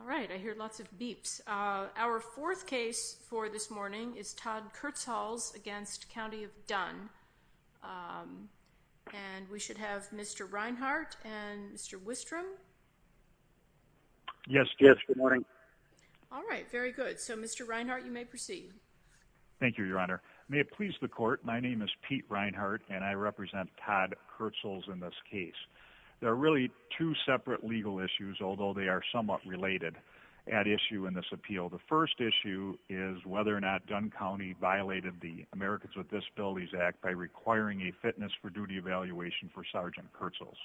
All right, I hear lots of beeps. Our fourth case for this morning is Todd Kurtzhals v. County of Dunn. And we should have Mr. Reinhardt and Mr. Wistrom. Yes, yes, good morning. All right, very good. So Mr. Reinhardt, you may proceed. Thank you, Your Honor. May it please the court, my name is Pete Reinhardt and I represent Todd Kurtzhals in this case. There are really two separate legal issues, although they are somewhat related, at issue in this appeal. The first issue is whether or not Dunn County violated the Americans with Disabilities Act by requiring a fitness for duty evaluation for Sergeant Kurtzhals.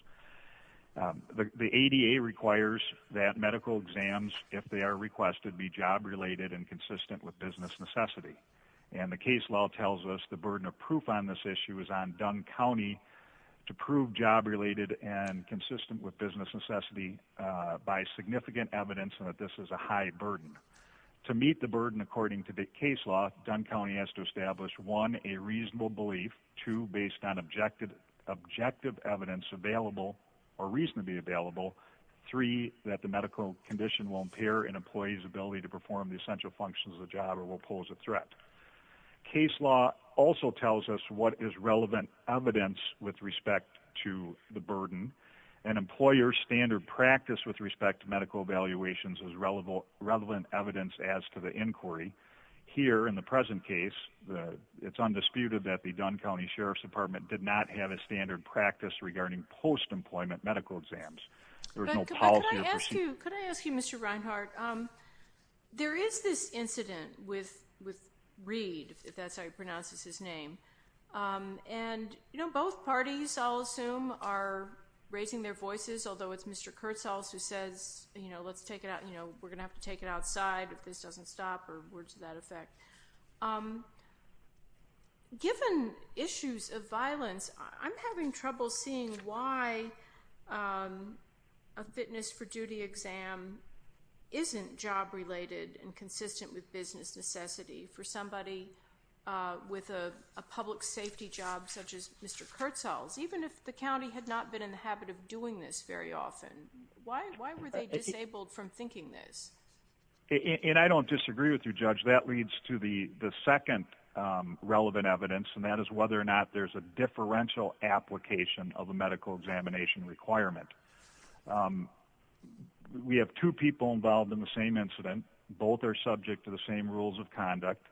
The ADA requires that medical exams, if they are requested, be job-related and consistent with business necessity. And the case law tells us the burden of proof on this issue is on Dunn County to prove job-related and consistent with business necessity by significant evidence that this is a high burden. To meet the burden, according to the case law, Dunn County has to establish, one, a reasonable belief, two, based on objective evidence available or reasonably available, three, that the medical condition will impair an employee's ability to perform the essential functions of the job or will pose a threat. Case law also tells us what is relevant evidence with respect to the burden. An employer's standard practice with respect to medical evaluations is relevant evidence as to the inquiry. Here, in the present case, it's undisputed that the Dunn County Sheriff's Department did not have a standard practice regarding post-employment medical exams. There was no policy or procedure. Could I ask you, Mr. Reinhart, there is this incident with Reid, if that's how you pronounce his name. And, you know, both parties, I'll assume, are raising their voices, although it's Mr. Kurtzels who says, you know, let's take it out, you know, we're going to have to take it outside if this doesn't stop or words to that effect. Given issues of violence, I'm having trouble seeing why a fitness for duty exam isn't job-related and consistent with business necessity for somebody with a public safety job such as Mr. Kurtzels. Even if the county had not been in the habit of doing this very often, why were they disabled from thinking this? And I don't disagree with you, Judge. That leads to the second relevant evidence, and that is whether or not there's a differential application of a medical examination requirement. We have two people involved in the same incident. Both are subject to the same rules of conduct.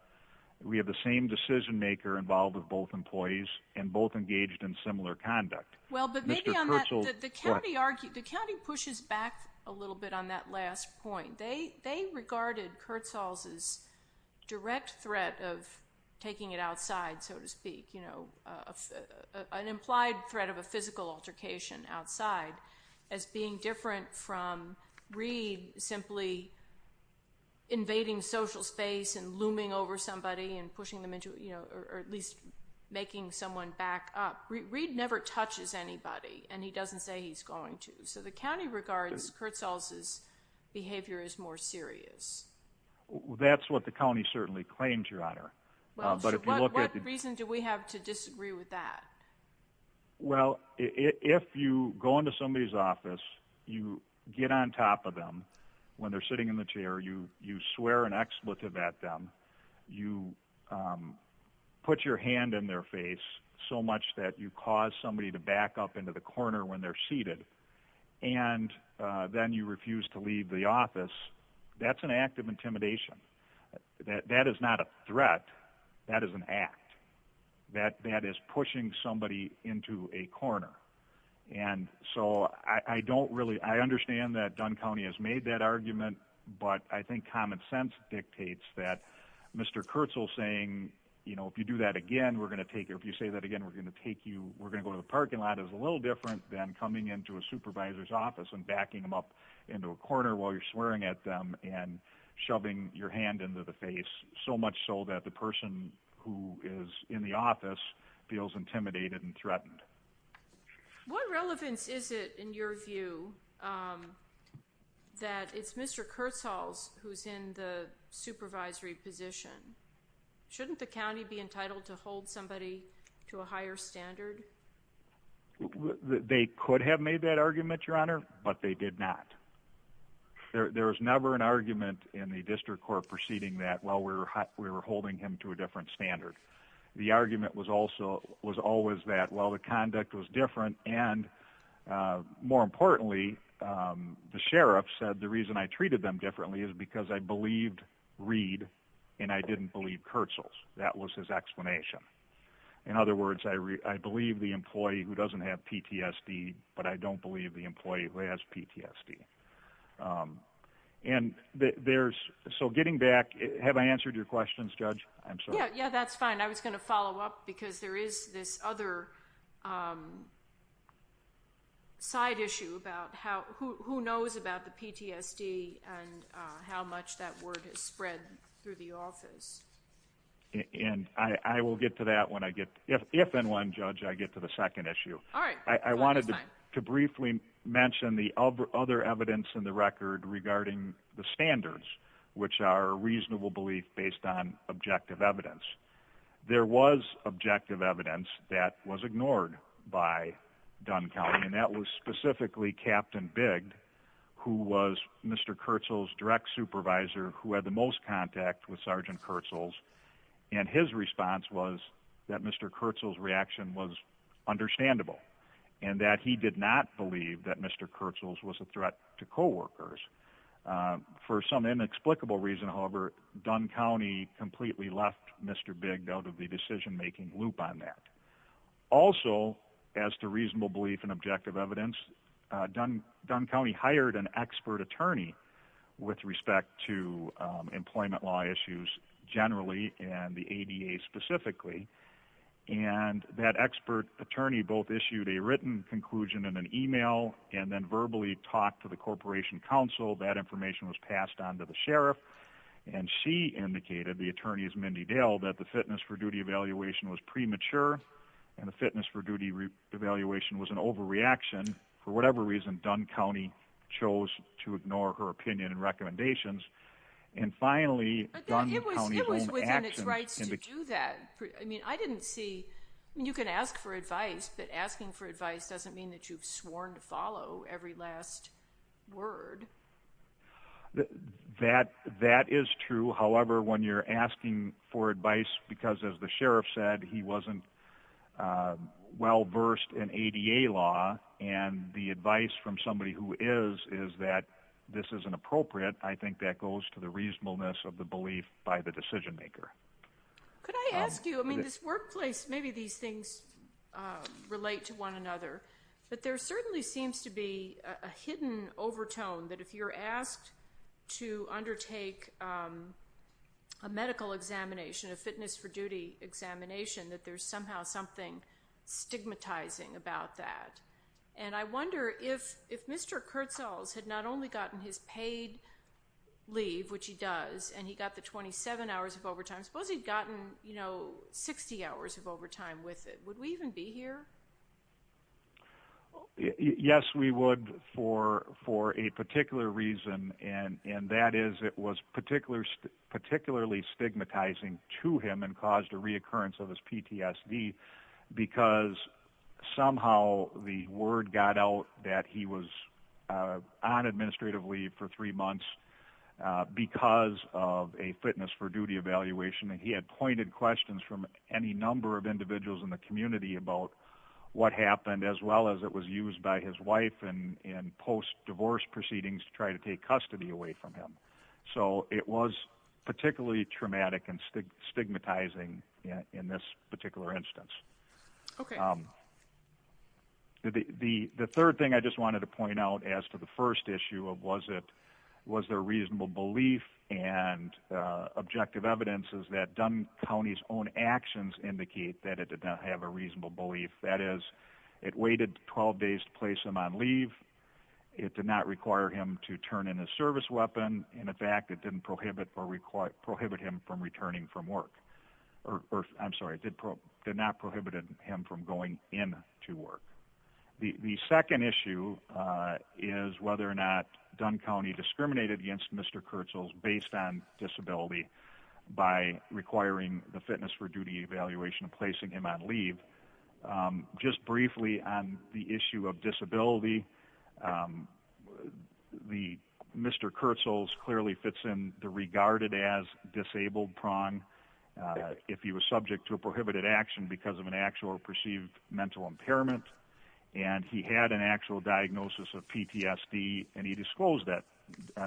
We have the same decision-maker involved with both employees and both engaged in similar conduct. Mr. Kurtzels, what? The county pushes back a little bit on that last point. They regarded Kurtzels' direct threat of taking it outside, so to speak, you know, an implied threat of a physical altercation outside as being different from Reed simply invading social space and looming over somebody and pushing them into, you know, or at least making someone back up. Reed never touches anybody, and he doesn't say he's going to. So the county regards Kurtzels' behavior as more serious. That's what the county certainly claims, Your Honor. Well, so what reason do we have to disagree with that? Well, if you go into somebody's office, you get on top of them when they're sitting in the chair, you swear an expletive at them, you put your hand in their face so much that you cause somebody to back up into the corner when they're seated, and then you refuse to leave the office, that's an act of intimidation. That is not a threat. That is an act. That is pushing somebody into a corner. And so I don't really – I understand that Dunn County has made that argument, but I think common sense dictates that Mr. Kurtzels saying, you know, if you do that again, we're going to take you. We're going to go to the parking lot is a little different than coming into a supervisor's office and backing them up into a corner while you're swearing at them and shoving your hand into the face, so much so that the person who is in the office feels intimidated and threatened. What relevance is it, in your view, that it's Mr. Kurtzels who's in the supervisory position? Shouldn't the county be entitled to hold somebody to a higher standard? They could have made that argument, Your Honor, but they did not. There was never an argument in the district court proceeding that, well, we were holding him to a different standard. The argument was always that, well, the conduct was different, and more importantly, the sheriff said the reason I treated them differently is because I believed Reed and I didn't believe Kurtzels. That was his explanation. In other words, I believe the employee who doesn't have PTSD, but I don't believe the employee who has PTSD. And there's – so getting back, have I answered your questions, Judge? Yeah, that's fine. I was going to follow up because there is this other side issue about who knows about the PTSD and how much that word has spread through the office. And I will get to that when I get – if and when, Judge, I get to the second issue. All right. I wanted to briefly mention the other evidence in the record regarding the standards, which are reasonable belief based on objective evidence. There was objective evidence that was ignored by Dunn County, and that was specifically Captain Bigg, who was Mr. Kurtzels' direct supervisor, who had the most contact with Sergeant Kurtzels. And his response was that Mr. Kurtzels' reaction was understandable and that he did not believe that Mr. Kurtzels was a threat to coworkers. For some inexplicable reason, however, Dunn County completely left Mr. Bigg out of the decision-making loop on that. Also, as to reasonable belief and objective evidence, Dunn County hired an expert attorney with respect to employment law issues generally and the ADA specifically. And that expert attorney both issued a written conclusion in an email and then verbally talked to the Corporation Counsel. That information was passed on to the sheriff. And she indicated, the attorney is Mindy Dale, that the fitness for duty evaluation was premature and the fitness for duty evaluation was an overreaction. For whatever reason, Dunn County chose to ignore her opinion and recommendations. And finally, Dunn County – It was within its rights to do that. I mean, I didn't see – you can ask for advice, but asking for advice doesn't mean that you've sworn to follow every last word. That is true. However, when you're asking for advice because, as the sheriff said, he wasn't well-versed in ADA law, and the advice from somebody who is, is that this isn't appropriate, I think that goes to the reasonableness of the belief by the decision-maker. Could I ask you – I mean, this workplace, maybe these things relate to one another, but there certainly seems to be a hidden overtone that if you're asked to undertake a medical examination, a fitness for duty examination, that there's somehow something stigmatizing about that. And I wonder if Mr. Kurtzels had not only gotten his paid leave, which he does, and he got the 27 hours of overtime, suppose he'd gotten, you know, 60 hours of overtime with it, would we even be here? Yes, we would for a particular reason, and that is it was particularly stigmatizing to him and caused a reoccurrence of his PTSD because somehow the word got out that he was on administrative leave for three months because of a fitness for duty evaluation, and he had pointed questions from any number of individuals in the community about what happened, as well as it was used by his wife in post-divorce proceedings to try to take custody away from him. So it was particularly traumatic and stigmatizing in this particular instance. Okay. The third thing I just wanted to point out as to the first issue of was there reasonable belief and objective evidence is that Dunn County's own actions indicate that it did not have a reasonable belief. That is, it waited 12 days to place him on leave. It did not require him to turn in a service weapon. In fact, it didn't prohibit him from returning from work. I'm sorry, it did not prohibit him from going in to work. The second issue is whether or not Dunn County discriminated against Mr. Kurtzels based on disability by requiring the fitness for duty evaluation and placing him on leave. Just briefly on the issue of disability, Mr. Kurtzels clearly fits in the regarded as disabled prong if he was subject to a prohibited action because of an actual or perceived mental impairment, and he had an actual diagnosis of PTSD, and he disclosed that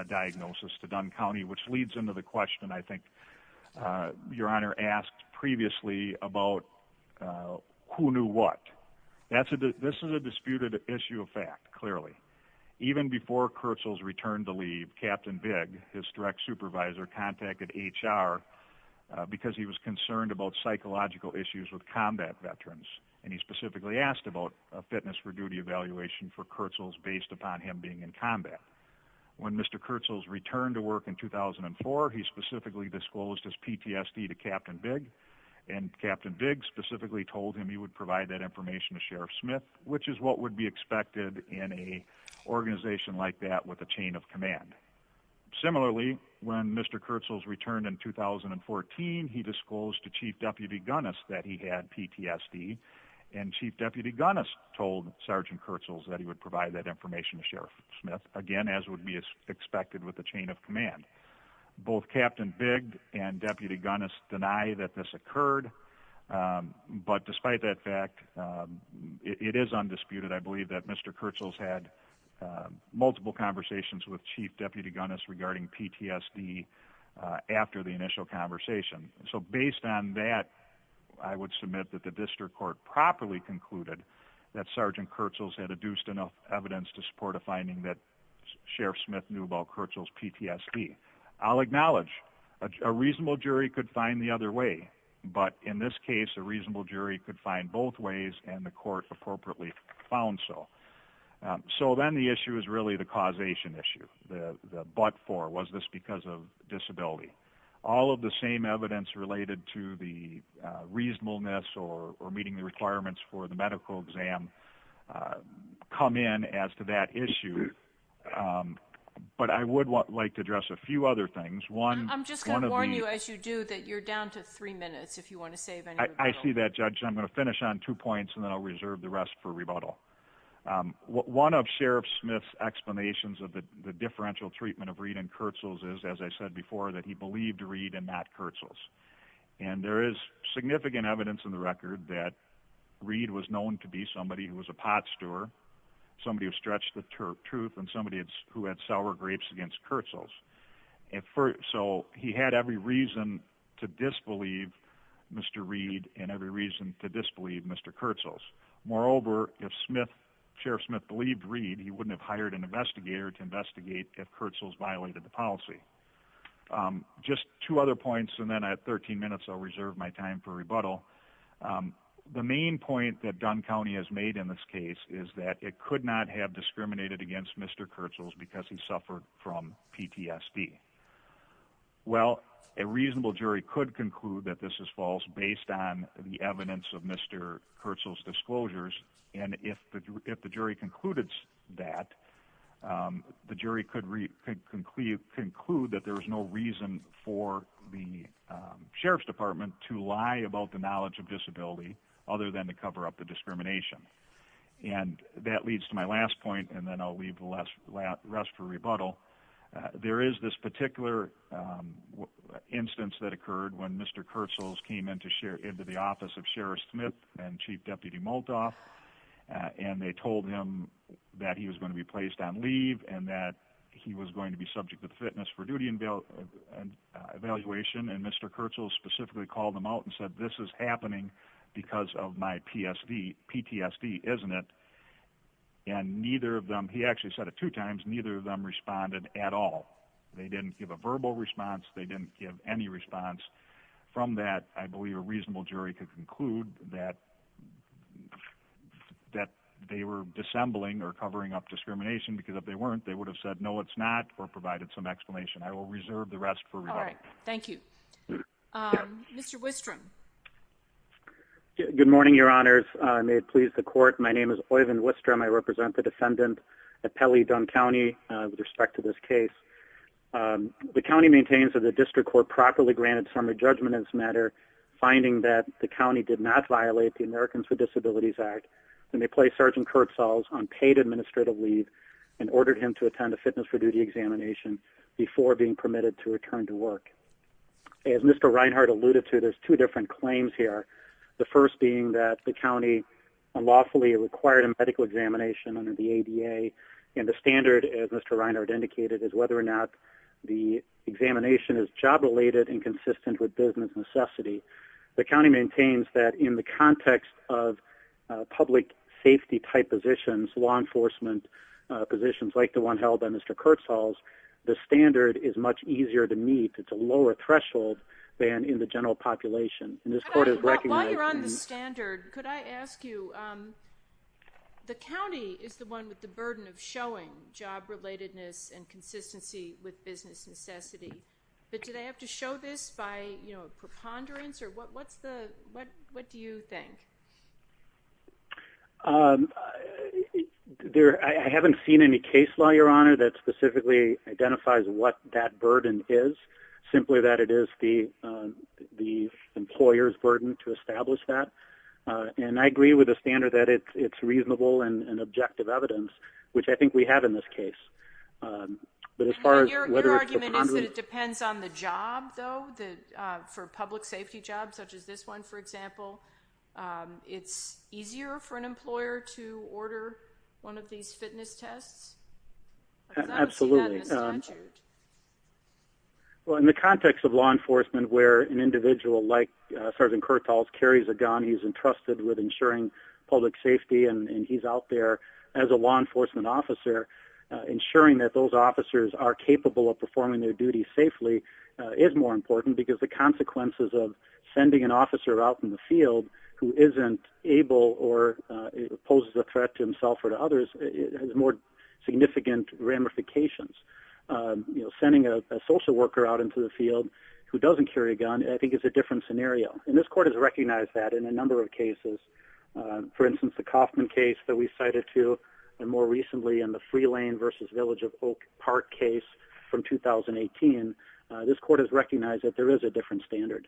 diagnosis to Dunn County, which leads into the question I think Your Honor asked previously about who knew what. This is a disputed issue of fact, clearly. Even before Kurtzels returned to leave, Captain Bigg, his direct supervisor, contacted HR because he was concerned about psychological issues with combat veterans, and he specifically asked about a fitness for duty evaluation for Kurtzels based upon him being in combat. When Mr. Kurtzels returned to work in 2004, he specifically disclosed his PTSD to Captain Bigg, and Captain Bigg specifically told him he would provide that information to Sheriff Smith, which is what would be expected in an organization like that with a chain of command. Similarly, when Mr. Kurtzels returned in 2014, he disclosed to Chief Deputy Gunness that he had PTSD, and Chief Deputy Gunness told Sergeant Kurtzels that he would provide that information to Sheriff Smith, again as would be expected with a chain of command. Both Captain Bigg and Deputy Gunness deny that this occurred, but despite that fact, it is undisputed. I believe that Mr. Kurtzels had multiple conversations with Chief Deputy Gunness regarding PTSD after the initial conversation. So based on that, I would submit that the district court properly concluded that Sergeant Kurtzels had adduced enough evidence to support a finding that Sheriff Smith knew about Kurtzels' PTSD. I'll acknowledge a reasonable jury could find the other way, but in this case, a reasonable jury could find both ways, and the court appropriately found so. So then the issue is really the causation issue, the but for, was this because of disability? All of the same evidence related to the reasonableness or meeting the requirements for the medical exam come in as to that issue. But I would like to address a few other things. I'm just going to warn you as you do that you're down to three minutes if you want to save any rebuttal. I see that, Judge. I'm going to finish on two points, and then I'll reserve the rest for rebuttal. One of Sheriff Smith's explanations of the differential treatment of Reed and Kurtzels is, as I said before, that he believed Reed and not Kurtzels. And there is significant evidence in the record that Reed was known to be somebody who was a pot stewer, somebody who stretched the truth, and somebody who had sour grapes against Kurtzels. So he had every reason to disbelieve Mr. Reed and every reason to disbelieve Mr. Kurtzels. Moreover, if Sheriff Smith believed Reed, he wouldn't have hired an investigator to investigate if Kurtzels violated the policy. Just two other points, and then at 13 minutes I'll reserve my time for rebuttal. The main point that Dunn County has made in this case is that it could not have discriminated against Mr. Kurtzels because he suffered from PTSD. Well, a reasonable jury could conclude that this is false based on the evidence of Mr. Kurtzels' disclosures, and if the jury concluded that, the jury could conclude that there is no reason for the Sheriff's Department to lie about the knowledge of disability other than to cover up the discrimination. And that leads to my last point, and then I'll leave the rest for rebuttal. There is this particular instance that occurred when Mr. Kurtzels came into the office of Sheriff Smith and Chief Deputy Moldoff, and they told him that he was going to be placed on leave and that he was going to be subject to the Fitness for Duty evaluation, and Mr. Kurtzels specifically called him out and said, this is happening because of my PTSD, isn't it? And neither of them, he actually said it two times, neither of them responded at all. They didn't give a verbal response, they didn't give any response. From that, I believe a reasonable jury could conclude that they were dissembling or covering up discrimination, because if they weren't, they would have said, no, it's not, or provided some explanation. I will reserve the rest for rebuttal. All right. Thank you. Mr. Wistrom. Good morning, Your Honors. May it please the court, my name is Oyvind Wistrom. I represent the defendant at Pelley-Dunn County with respect to this case. The county maintains that the district court properly granted summary judgment in this matter, finding that the county did not violate the Americans with Disabilities Act, and they placed Sergeant Kurtzels on paid administrative leave and ordered him to attend a Fitness for Duty examination before being permitted to return to work. As Mr. Reinhardt alluded to, there's two different claims here, the first being that the county unlawfully required a medical examination under the ADA, and the standard, as Mr. Reinhardt indicated, is whether or not the examination is job-related and consistent with business necessity. The county maintains that in the context of public safety-type positions, law enforcement positions like the one held by Mr. Kurtzels, the standard is much easier to meet. It's a lower threshold than in the general population. While you're on the standard, could I ask you, the county is the one with the burden of showing job-relatedness and consistency with business necessity, but do they have to show this by preponderance, or what do you think? I haven't seen any case law, Your Honor, that specifically identifies what that burden is, simply that it is the employer's burden to establish that. And I agree with the standard that it's reasonable and objective evidence, which I think we have in this case. Your argument is that it depends on the job, though, for a public safety job such as this one, for example. It's easier for an employer to order one of these fitness tests? Absolutely. Well, in the context of law enforcement where an individual like Sergeant Kurtzels carries a gun, he's entrusted with ensuring public safety, and he's out there as a law enforcement officer, ensuring that those officers are capable of performing their duty safely is more important because the consequences of sending an officer out in the field who isn't able or poses a threat to himself or to others is more significant ramifications. Sending a social worker out into the field who doesn't carry a gun, I think, is a different scenario. And this court has recognized that in a number of cases. For instance, the Kaufman case that we cited, too, and more recently in the Free Lane v. Village of Oak Park case from 2018, this court has recognized that there is a different standard.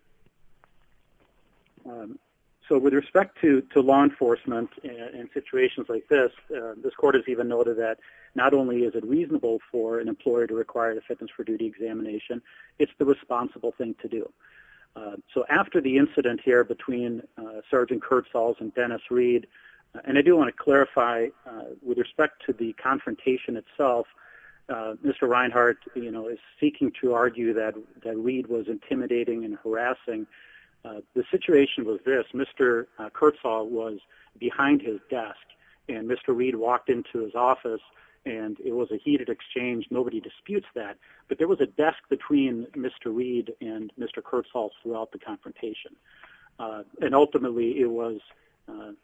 So with respect to law enforcement in situations like this, this court has even noted that not only is it reasonable for an employer to require a fitness for duty examination, it's the responsible thing to do. So after the incident here between Sergeant Kurtzels and Dennis Reed, and I do want to clarify with respect to the confrontation itself, Mr. Reinhart is seeking to argue that Reed was intimidating and harassing. The situation was this. Mr. Kurtzels was behind his desk and Mr. Reed walked into his office and it was a heated exchange. Nobody disputes that. But there was a desk between Mr. Reed and Mr. Kurtzels throughout the confrontation. And ultimately it was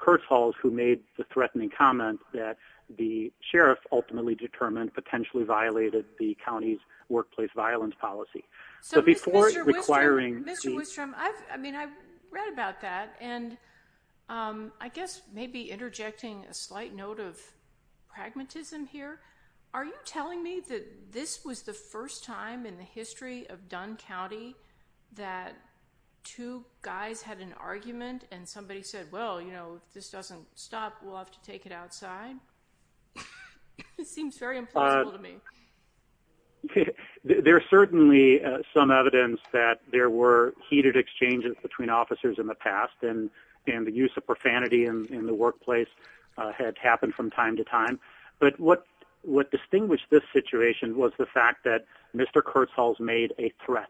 Kurtzels who made the threatening comment that the sheriff ultimately determined, potentially violated the county's workplace violence policy. So before requiring- Mr. Wistrom, I've read about that, and I guess maybe interjecting a slight note of pragmatism here. Are you telling me that this was the first time in the history of Dunn County that two guys had an argument and somebody said, well, you know, if this doesn't stop, we'll have to take it outside? This seems very implausible to me. There's certainly some evidence that there were heated exchanges between officers in the past and the use of profanity in the workplace had happened from time to time. But what distinguished this situation was the fact that Mr. Kurtzels made a threat.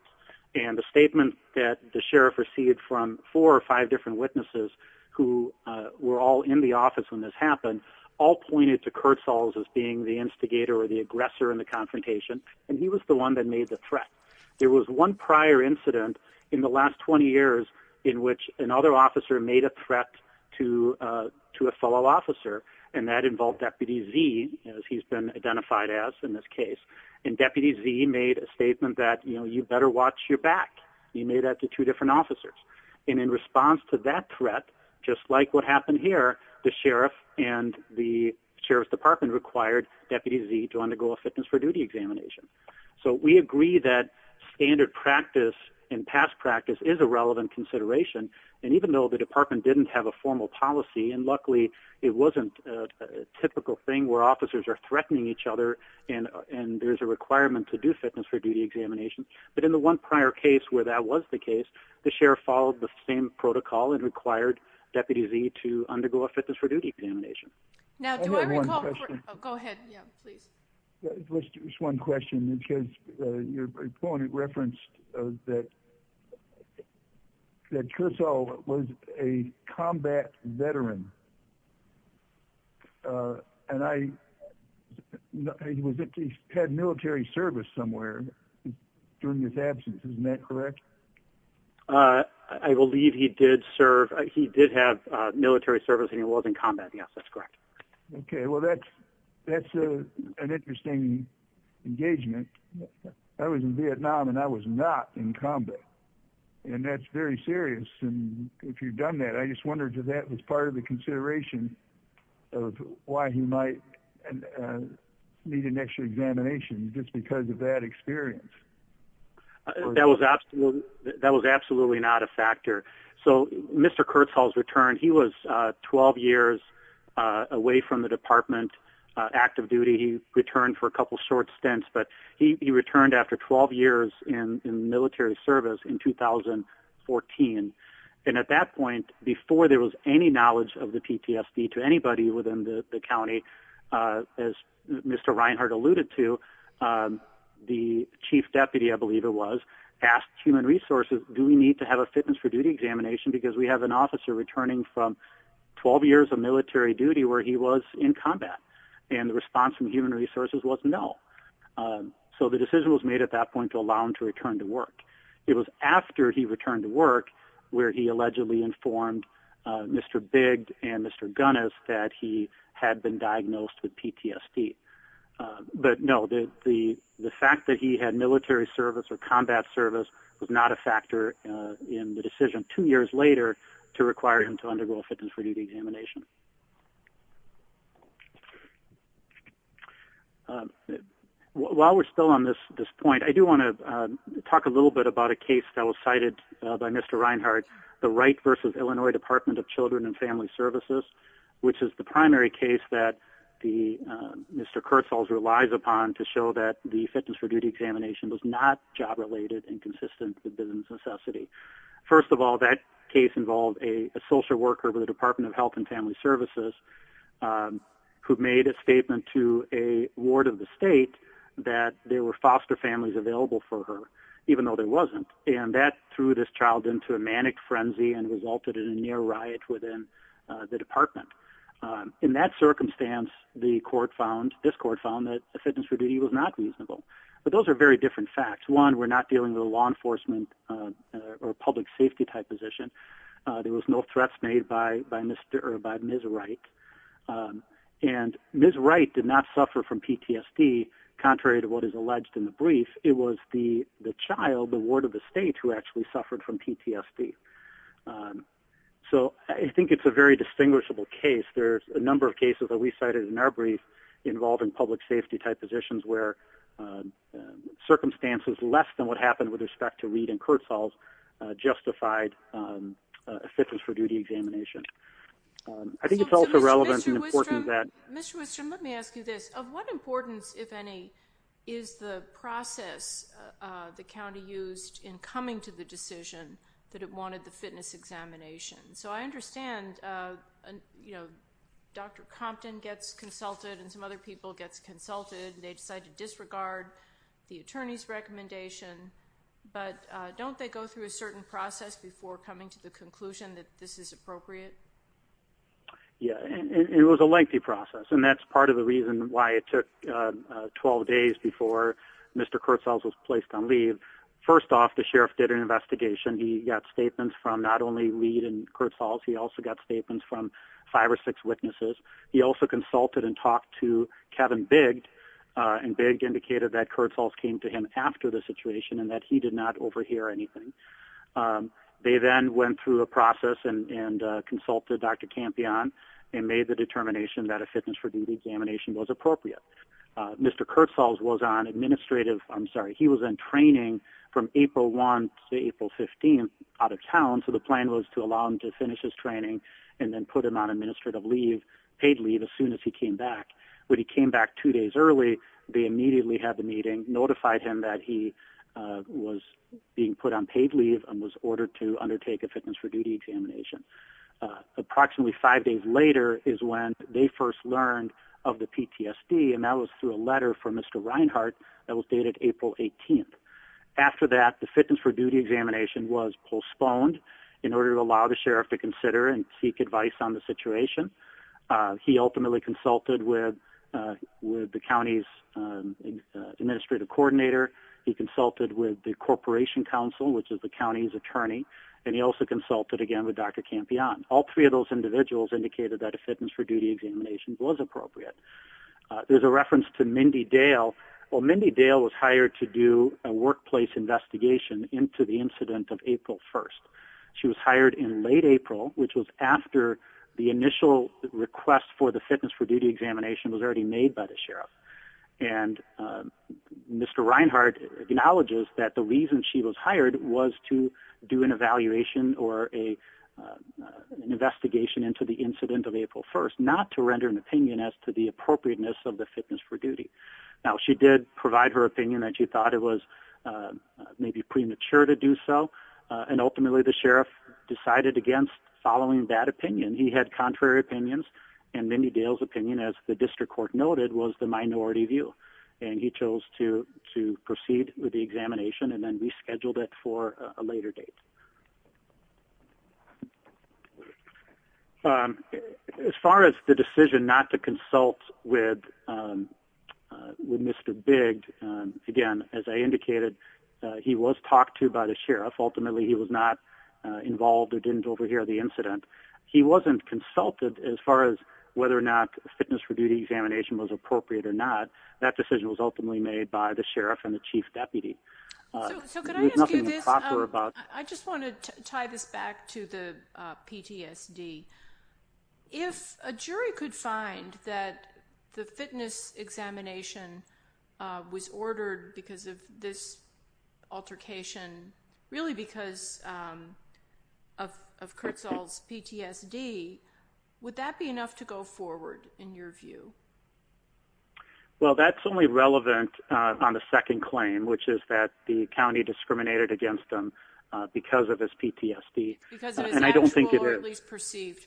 And the statement that the sheriff received from four or five different witnesses who were all in the office when this happened all pointed to Kurtzels as being the instigator or the aggressor in the confrontation, and he was the one that made the threat. There was one prior incident in the last 20 years in which another officer made a threat to a fellow officer, and that involved Deputy Z, as he's been identified as in this case. And Deputy Z made a statement that, you know, you better watch your back. He made that to two different officers. And in response to that threat, just like what happened here, the sheriff and the sheriff's department required Deputy Z to undergo a fitness for duty examination. So we agree that standard practice and past practice is a relevant consideration, and even though the department didn't have a formal policy, and luckily it wasn't a typical thing where officers are threatening each other and there's a requirement to do fitness for duty examinations, but in the one prior case where that was the case, the sheriff followed the same protocol and required Deputy Z to undergo a fitness for duty examination. I have one question. Go ahead, yeah, please. Just one question, because your opponent referenced that Kurtzels was a combat veteran, and he had military service somewhere during his absence, isn't that correct? I believe he did serve, he did have military service and he was in combat, yes, that's correct. Okay, well, that's an interesting engagement. I was in Vietnam and I was not in combat, and that's very serious. And if you've done that, I just wondered if that was part of the consideration of why he might need an extra examination, just because of that experience. That was absolutely not a factor. So Mr. Kurtzels returned. He was 12 years away from the department, active duty. He returned for a couple short stints, but he returned after 12 years in military service in 2014. And at that point, before there was any knowledge of the PTSD to anybody within the county, as Mr. Reinhart alluded to, the chief deputy, I believe it was, asked human resources, do we need to have a fitness for duty examination, because we have an officer returning from 12 years of military duty where he was in combat. And the response from human resources was no. So the decision was made at that point to allow him to return to work. It was after he returned to work where he allegedly informed Mr. Bigg and Mr. Gunness that he had been diagnosed with PTSD. But no, the fact that he had military service or combat service was not a factor in the decision two years later to require him to undergo a fitness for duty examination. While we're still on this point, I do want to talk a little bit about a case that was cited by Mr. Reinhart, the Wright v. Illinois Department of Children and Family Services, which is the primary case that Mr. Kurtzels relies upon to show that the fitness for duty examination was not job related and consistent with business necessity. First of all, that case involved a social worker with the Department of Health and Family Services who made a statement to a ward of the state that there were foster families available for her, even though there wasn't. And that threw this child into a manic frenzy and resulted in a near riot within the department. In that circumstance, this court found that the fitness for duty was not reasonable. But those are very different facts. One, we're not dealing with a law enforcement or public safety type position. There was no threats made by Ms. Wright. And Ms. Wright did not suffer from PTSD, contrary to what is alleged in the brief. It was the child, the ward of the state, who actually suffered from PTSD. So I think it's a very distinguishable case. There's a number of cases that we cited in our brief involving public safety type positions where circumstances less than what happened with respect to Reed and Kurtzall justified a fitness for duty examination. I think it's also relevant and important that- Mr. Wistrom, let me ask you this. Of what importance, if any, is the process the county used in coming to the decision that it wanted the fitness examination? So I understand, you know, Dr. Compton gets consulted and some other people gets consulted, and they decide to disregard the attorney's recommendation. But don't they go through a certain process before coming to the conclusion that this is appropriate? Yeah, it was a lengthy process, and that's part of the reason why it took 12 days before Mr. Kurtzall was placed on leave. First off, the sheriff did an investigation. He got statements from not only Reed and Kurtzall. He also got statements from five or six witnesses. He also consulted and talked to Kevin Bigg, and Bigg indicated that Kurtzall came to him after the situation and that he did not overhear anything. They then went through a process and consulted Dr. Campion and made the determination that a fitness for duty examination was appropriate. Mr. Kurtzall was on administrative-I'm sorry, he was in training from April 1 to April 15 out of town, so the plan was to allow him to finish his training and then put him on administrative leave, paid leave, as soon as he came back. When he came back two days early, they immediately had the meeting, notified him that he was being put on paid leave and was ordered to undertake a fitness for duty examination. Approximately five days later is when they first learned of the PTSD, and that was through a letter from Mr. Reinhart that was dated April 18. After that, the fitness for duty examination was postponed in order to allow the sheriff to consider and seek advice on the situation. He ultimately consulted with the county's administrative coordinator. He consulted with the corporation council, which is the county's attorney, and he also consulted again with Dr. Campion. All three of those individuals indicated that a fitness for duty examination was appropriate. There's a reference to Mindy Dale. Well, Mindy Dale was hired to do a workplace investigation into the incident of April 1. She was hired in late April, which was after the initial request for the fitness for duty examination was already made by the sheriff. And Mr. Reinhart acknowledges that the reason she was hired was to do an evaluation or an investigation into the incident of April 1, not to render an opinion as to the appropriateness of the fitness for duty. Now, she did provide her opinion that she thought it was maybe premature to do so, and ultimately the sheriff decided against following that opinion. He had contrary opinions, and Mindy Dale's opinion, as the district court noted, was the minority view. And he chose to proceed with the examination, and then rescheduled it for a later date. As far as the decision not to consult with Mr. Bigg, again, as I indicated, he was talked to by the sheriff. Ultimately, he was not involved or didn't overhear the incident. He wasn't consulted as far as whether or not a fitness for duty examination was appropriate or not. That decision was ultimately made by the sheriff and the chief deputy. So could I ask you this? I just want to tie this back to the PTSD. If a jury could find that the fitness examination was ordered because of this altercation, really because of Kirtzall's PTSD, would that be enough to go forward in your view? Well, that's only relevant on the second claim, which is that the county discriminated against him because of his PTSD. Because of his actual or at least perceived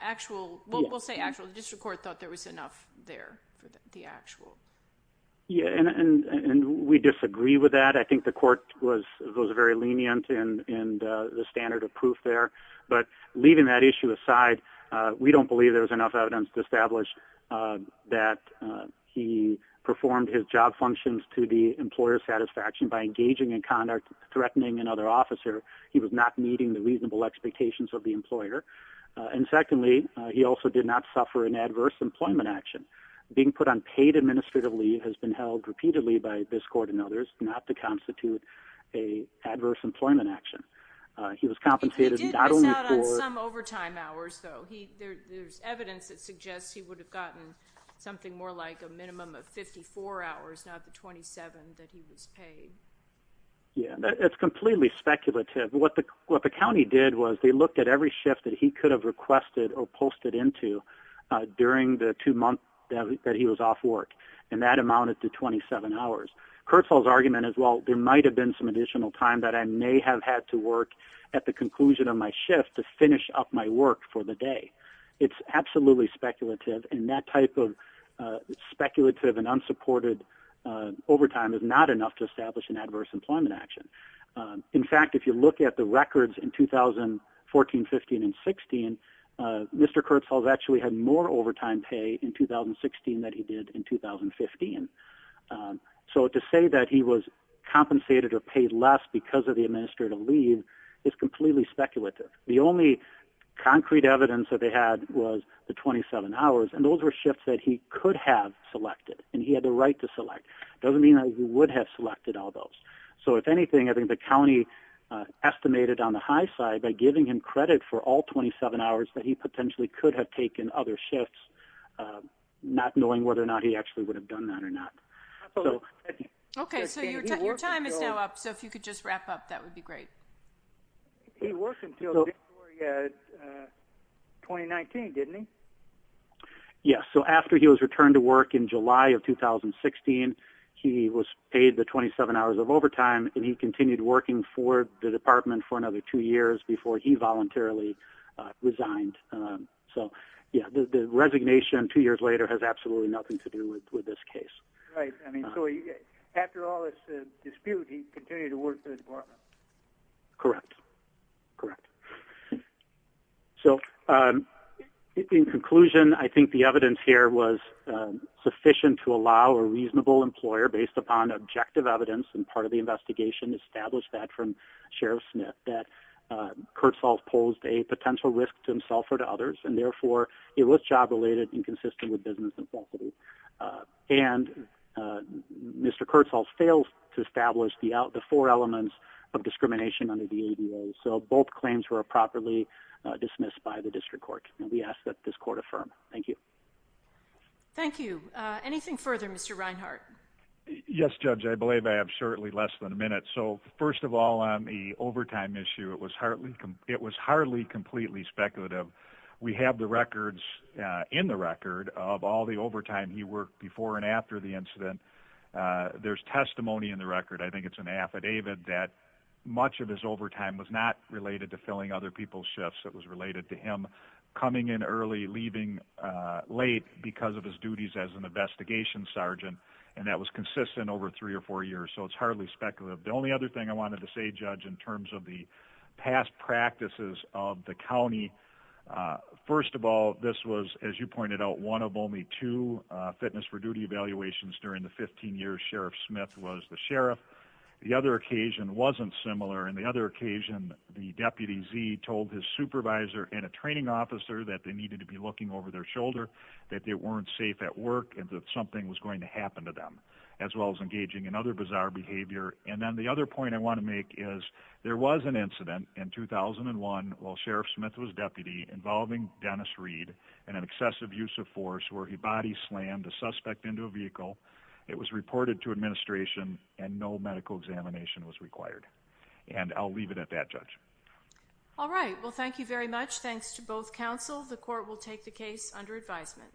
actual, we'll say actual. The district court thought there was enough there for the actual. Yeah, and we disagree with that. I think the court was very lenient in the standard of proof there. But leaving that issue aside, we don't believe there was enough evidence to establish that he performed his job functions to the employer's satisfaction by engaging in conduct threatening another officer. He was not meeting the reasonable expectations of the employer. And secondly, he also did not suffer an adverse employment action. Being put on paid administrative leave has been held repeatedly by this court and others not to constitute an adverse employment action. He was compensated not only for- He did miss out on some overtime hours, though. There's evidence that suggests he would have gotten something more like a minimum of 54 hours, not the 27 that he was paid. Yeah, that's completely speculative. What the county did was they looked at every shift that he could have requested or posted into during the two months that he was off work. And that amounted to 27 hours. Kurzweil's argument is, well, there might have been some additional time that I may have had to work at the conclusion of my shift to finish up my work for the day. It's absolutely speculative. And that type of speculative and unsupported overtime is not enough to establish an adverse employment action. In fact, if you look at the records in 2014, 15, and 16, Mr. Kurzweil actually had more overtime pay in 2016 than he did in 2015. So to say that he was compensated or paid less because of the administrative leave is completely speculative. The only concrete evidence that they had was the 27 hours, and those were shifts that he could have selected and he had the right to select. It doesn't mean that he would have selected all those. So, if anything, I think the county estimated on the high side by giving him credit for all 27 hours that he potentially could have taken other shifts, not knowing whether or not he actually would have done that or not. Absolutely. Okay, so your time is now up, so if you could just wrap up, that would be great. He worked until January 2019, didn't he? Yes, so after he was returned to work in July of 2016, he was paid the 27 hours of overtime, and he continued working for the department for another two years before he voluntarily resigned. So, yeah, the resignation two years later has absolutely nothing to do with this case. Right, so after all this dispute, he continued to work for the department. Correct, correct. So, in conclusion, I think the evidence here was sufficient to allow a reasonable employer, based upon objective evidence and part of the investigation established that from Sheriff Smith, that Kurtzfels posed a potential risk to himself or to others, and therefore it was job-related and consistent with business and faculty. And Mr. Kurtzfels failed to establish the four elements of discrimination under the ADA, so both claims were properly dismissed by the district court, and we ask that this court affirm. Thank you. Thank you. Anything further, Mr. Reinhart? Yes, Judge, I believe I have shortly less than a minute. So, first of all, on the overtime issue, it was hardly completely speculative. We have the records in the record of all the overtime he worked before and after the incident. There's testimony in the record, I think it's an affidavit, that much of his overtime was not related to filling other people's shifts. It was related to him coming in early, leaving late because of his duties as an investigation sergeant, and that was consistent over three or four years, so it's hardly speculative. The only other thing I wanted to say, Judge, in terms of the past practices of the county, first of all, this was, as you pointed out, one of only two fitness for duty evaluations during the 15 years Sheriff Smith was the sheriff. The other occasion wasn't similar, and the other occasion the deputy Z told his supervisor and a training officer that they needed to be looking over their shoulder, that they weren't safe at work, and that something was going to happen to them, as well as engaging in other bizarre behavior. And then the other point I want to make is there was an incident in 2001 while Sheriff Smith was deputy involving Dennis Reed and an excessive use of force where he body slammed a suspect into a vehicle. It was reported to administration and no medical examination was required. And I'll leave it at that, Judge. All right, well, thank you very much. Thanks to both counsel. The court will take the case under advisement.